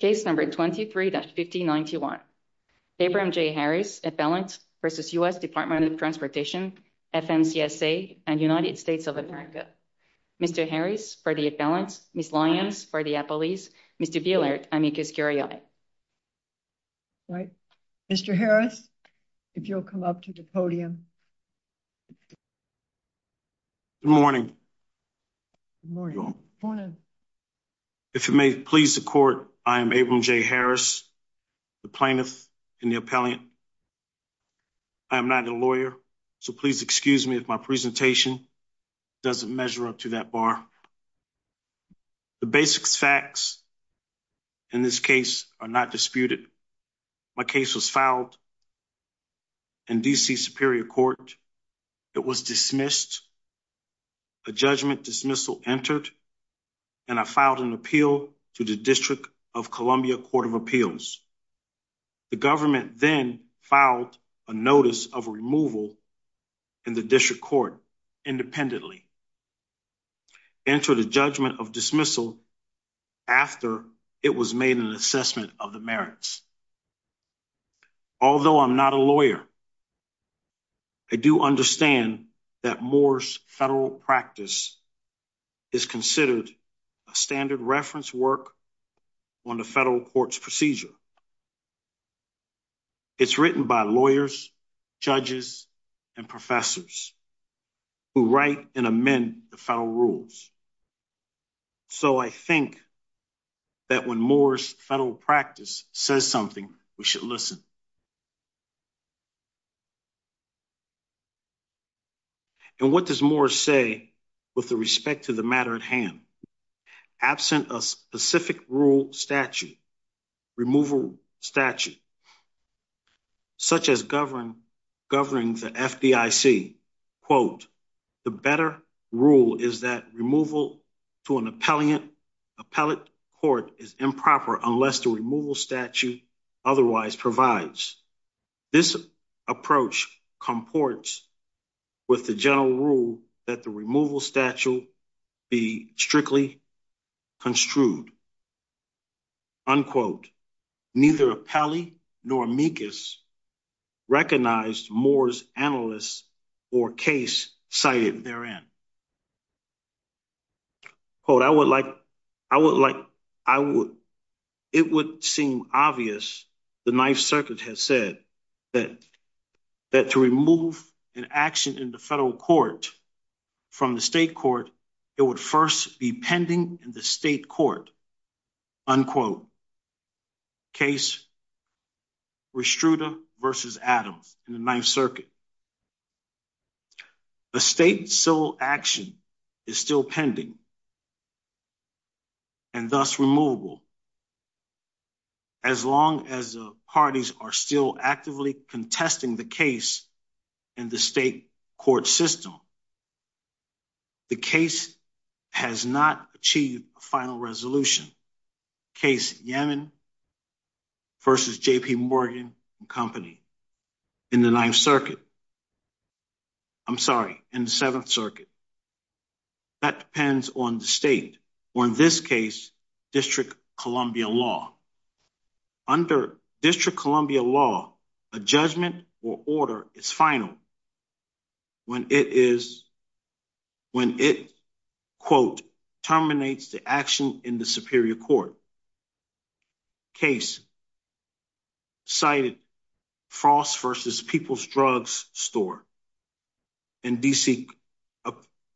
case number 23-5091. Abram J. Harris, appellant versus U.S. Department of Transportation FMCSA and United States of America. Mr. Harris for the appellant, Ms. Lyons for the appellees, Mr. Buellert, amicus curiae. Right. Mr. Harris, if you'll come up to the podium. Good morning. If it may please the court, I am Abram J. Harris, the plaintiff and the appellant. I am not a lawyer, so please excuse me if my presentation doesn't measure up to that bar. The basic facts in this case are not disputed. My case was filed in D.C. Superior Court. It was dismissed. A judgment dismissal entered and I filed an appeal to the District of Columbia Court of Appeals. The government then filed a notice of removal in the district court independently. Enter the judgment of dismissal after it was made an assessment of the merits. Although I'm not a lawyer, I do understand that Moore's federal practice is considered a standard reference work on the federal court's procedure. It's written by lawyers, judges, and professors who write and amend the federal rules. So I think that when Moore's federal practice says something, we should listen. And what does Moore say with the respect to the matter at hand? Absent a specific rule statute, removal statute, such as governing the FDIC, quote, the better rule is that removal to an appellate court is improper unless the removal statute otherwise provides. This approach comports with the general rule that the removal statute be strictly construed. Unquote. Neither end. Quote, I would like, I would like, I would, it would seem obvious, the Ninth Circuit has said that, that to remove an action in the federal court from the state court, it would first be pending in the state court. Unquote. Case Restruta versus Adams in the Ninth Circuit. The state civil action is still pending and thus removable. As long as the parties are still actively contesting the case in the state court system, the case has not achieved a final resolution. Case Yemen versus J. P. Morgan Company in the Ninth Circuit. I'm sorry. In the Seventh Circuit, that depends on the state or, in this case, District Columbia law. Under District Columbia law, a judgment or order is final when it is, when it, quote, terminates the action in the Superior Court. Case cited, Frost versus People's Drugs Store in D. C.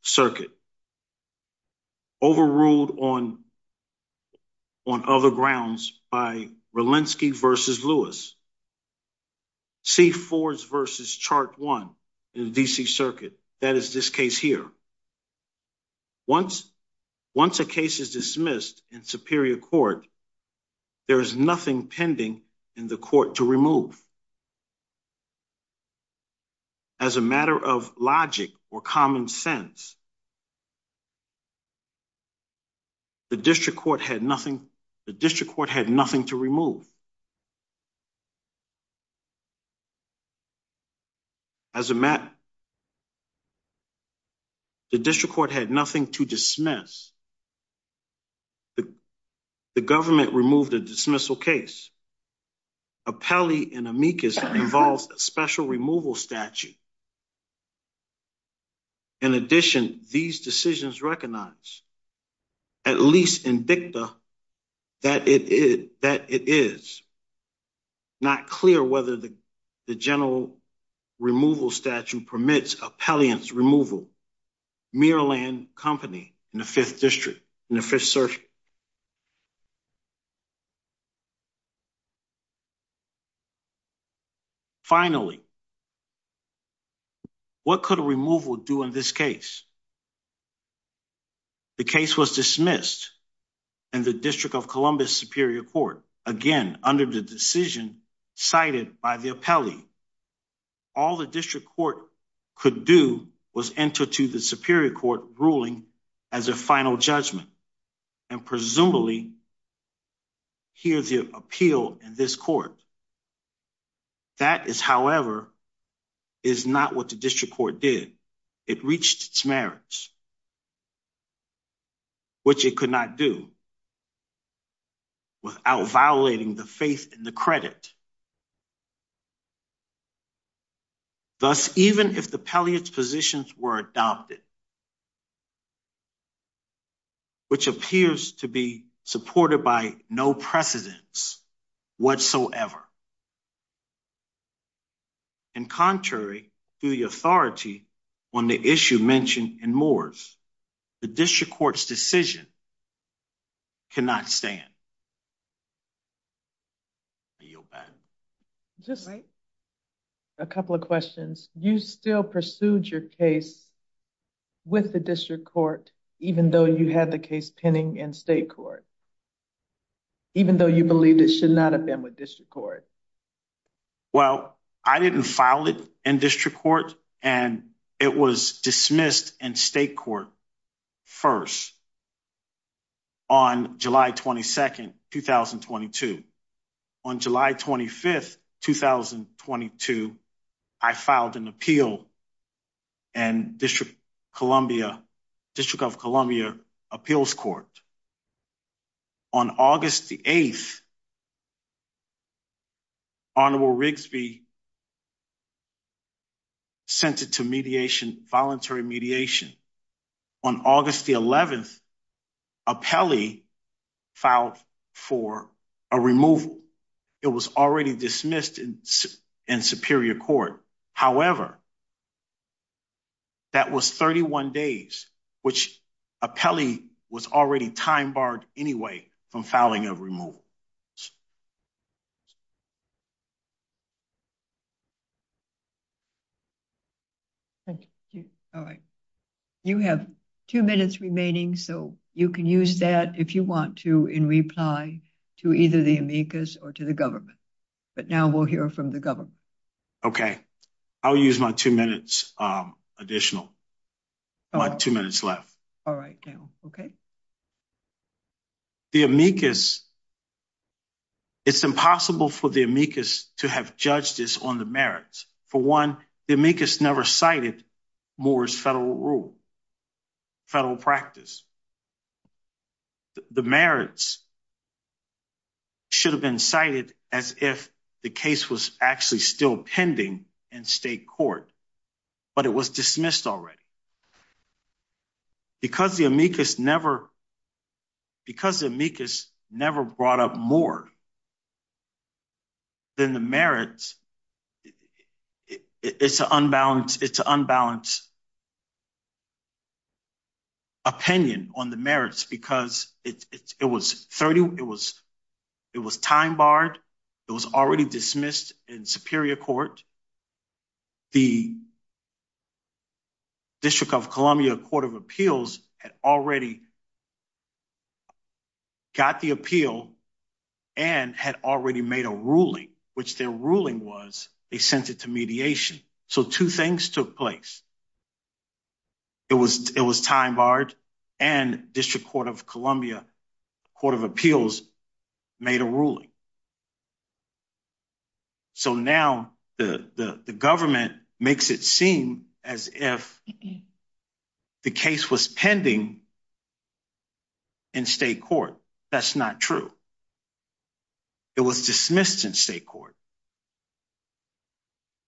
Circuit overruled on on other grounds by Relinsky versus Lewis. C. Ford's versus Chart One in the D. C. Circuit. That is this case here. Once, once a case is dismissed in Superior Court, there is nothing pending in the court to remove. As a matter of logic or common sense, the district court had nothing, the district court had nothing to remove. As a matter, the district court had nothing to dismiss. The, the government removed a dismissal case. Apelli and Amicus involves a special removal statute. In addition, these decisions recognize, at least indicta, that it is, that it is not clear whether the general removal statute permits Apelliant's removal. Muirland Company in the Fifth District, in the Fifth Circuit. Finally, what could a removal do in this case? The case was dismissed in the District of Columbus Superior Court, again, under the decision cited by the Apelli. All the district court could do was enter to the Superior Court ruling as a final judgment and presumably hear the appeal in this court. That is, however, is not what the district court did. It reached its merits, which it could not do without violating the faith in the credit. Thus, even if the Apelliant's positions were adopted, which appears to be supported by no precedence whatsoever, and contrary to the authority on the issue mentioned in Moores, the district court's decision cannot stand. I yield back. Just a couple of questions. You still pursued your case with the district court, even though you had the case pending in state court, even though you believe that should not have been with district court. Well, I didn't file it in district court, and it was dismissed in state court first on July 22nd, 2022. On July 25th, 2022, I filed an appeal and District of Columbia Appeals Court. On August the 8th, Honorable Rigsby sent it to mediation, voluntary mediation. On August the 11th, Apelli filed for a removal. It was already dismissed in Superior Court. However, that was 31 days, which Apelli was already time barred anyway from filing a removal. Thank you. All right. You have two minutes remaining, so you can use that if you want to in reply to either the amicus or to the government. But now we'll hear from the government. Okay, I'll use my two minutes additional, my two minutes left. All right now. Okay. The amicus It's impossible for the amicus to have judged this on the merits. For one, the amicus never cited Moore's federal rule, federal practice. The merits should have been cited as if the case was actually still pending in state court, but it was dismissed already. Because the amicus never brought up more than the merits. It's an unbalanced opinion on the merits because it was 30. It was time barred. It was already dismissed in Superior Court. The District of Columbia Court of Appeals had already got the appeal and had already made a ruling, which their ruling was. They sent it to mediation. So two things took place. It was it was time barred and District Court of Columbia Court of Appeals made a ruling. So now the government makes it seem as if the case was pending in state court. That's not true. It was dismissed in state court.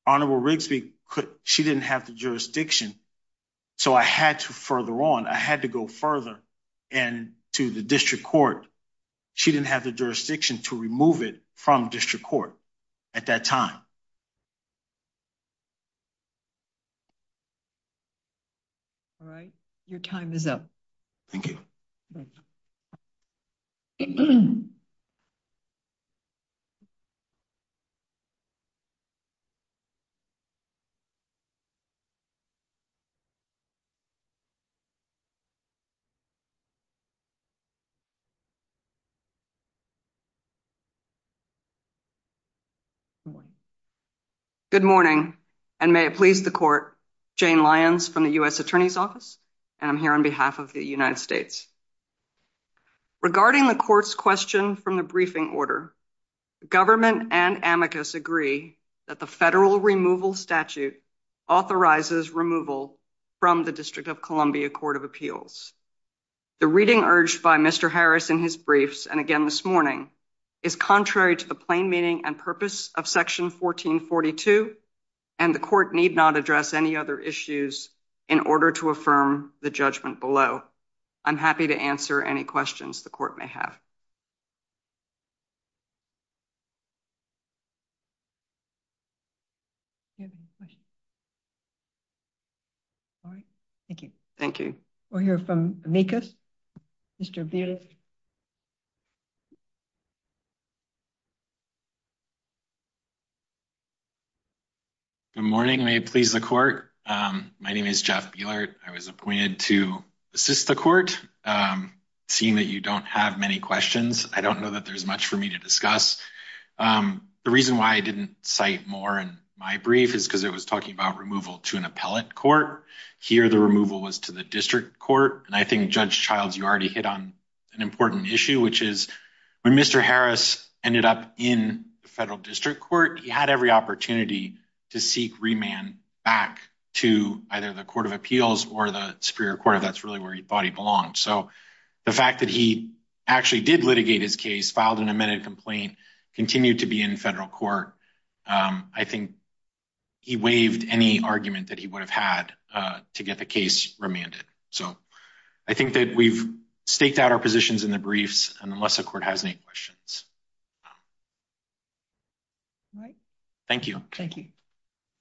Honorable Rigsby, she didn't have the jurisdiction. So I had to further on. I had to go further and to the District Court. She didn't have the jurisdiction to remove it from District Court at that time. All right. Your time is up. Thank you. Good morning. Good morning and may it please the court. Jane Lyons from the U.S. Attorney's Office and I'm here on behalf of the United States. Regarding the court's question from the briefing order government and amicus agree that the federal removal statute authorizes removal from the District of Columbia Court of Appeals. The reading urged by Mr. Harris in his briefs and again this morning is contrary to the plain meaning and purpose of section 1442 and the court need not address any other issues in order to affirm the judgment below. I'm happy to answer any questions the court may have. Thank you. Thank you. We'll hear from amicus. Mr. Beard. Good morning. May it please the court. My name is Jeff Beard. I was seeing that you don't have many questions. I don't know that there's much for me to discuss. The reason why I didn't cite more in my brief is because it was talking about removal to an appellate court here. The removal was to the District Court and I think Judge Childs you already hit on an important issue, which is when Mr. Harris ended up in the federal District Court. He had every opportunity to seek remand back to either the Court of Appeals or the Superior Court of that's really where he thought he belonged. So the fact that he actually did litigate his case, filed an amended complaint, continued to be in federal court. I think he waived any argument that he would have had to get the case remanded. So I think that we've staked out our positions in the briefs and unless the court has any questions. Thank you. Thank you.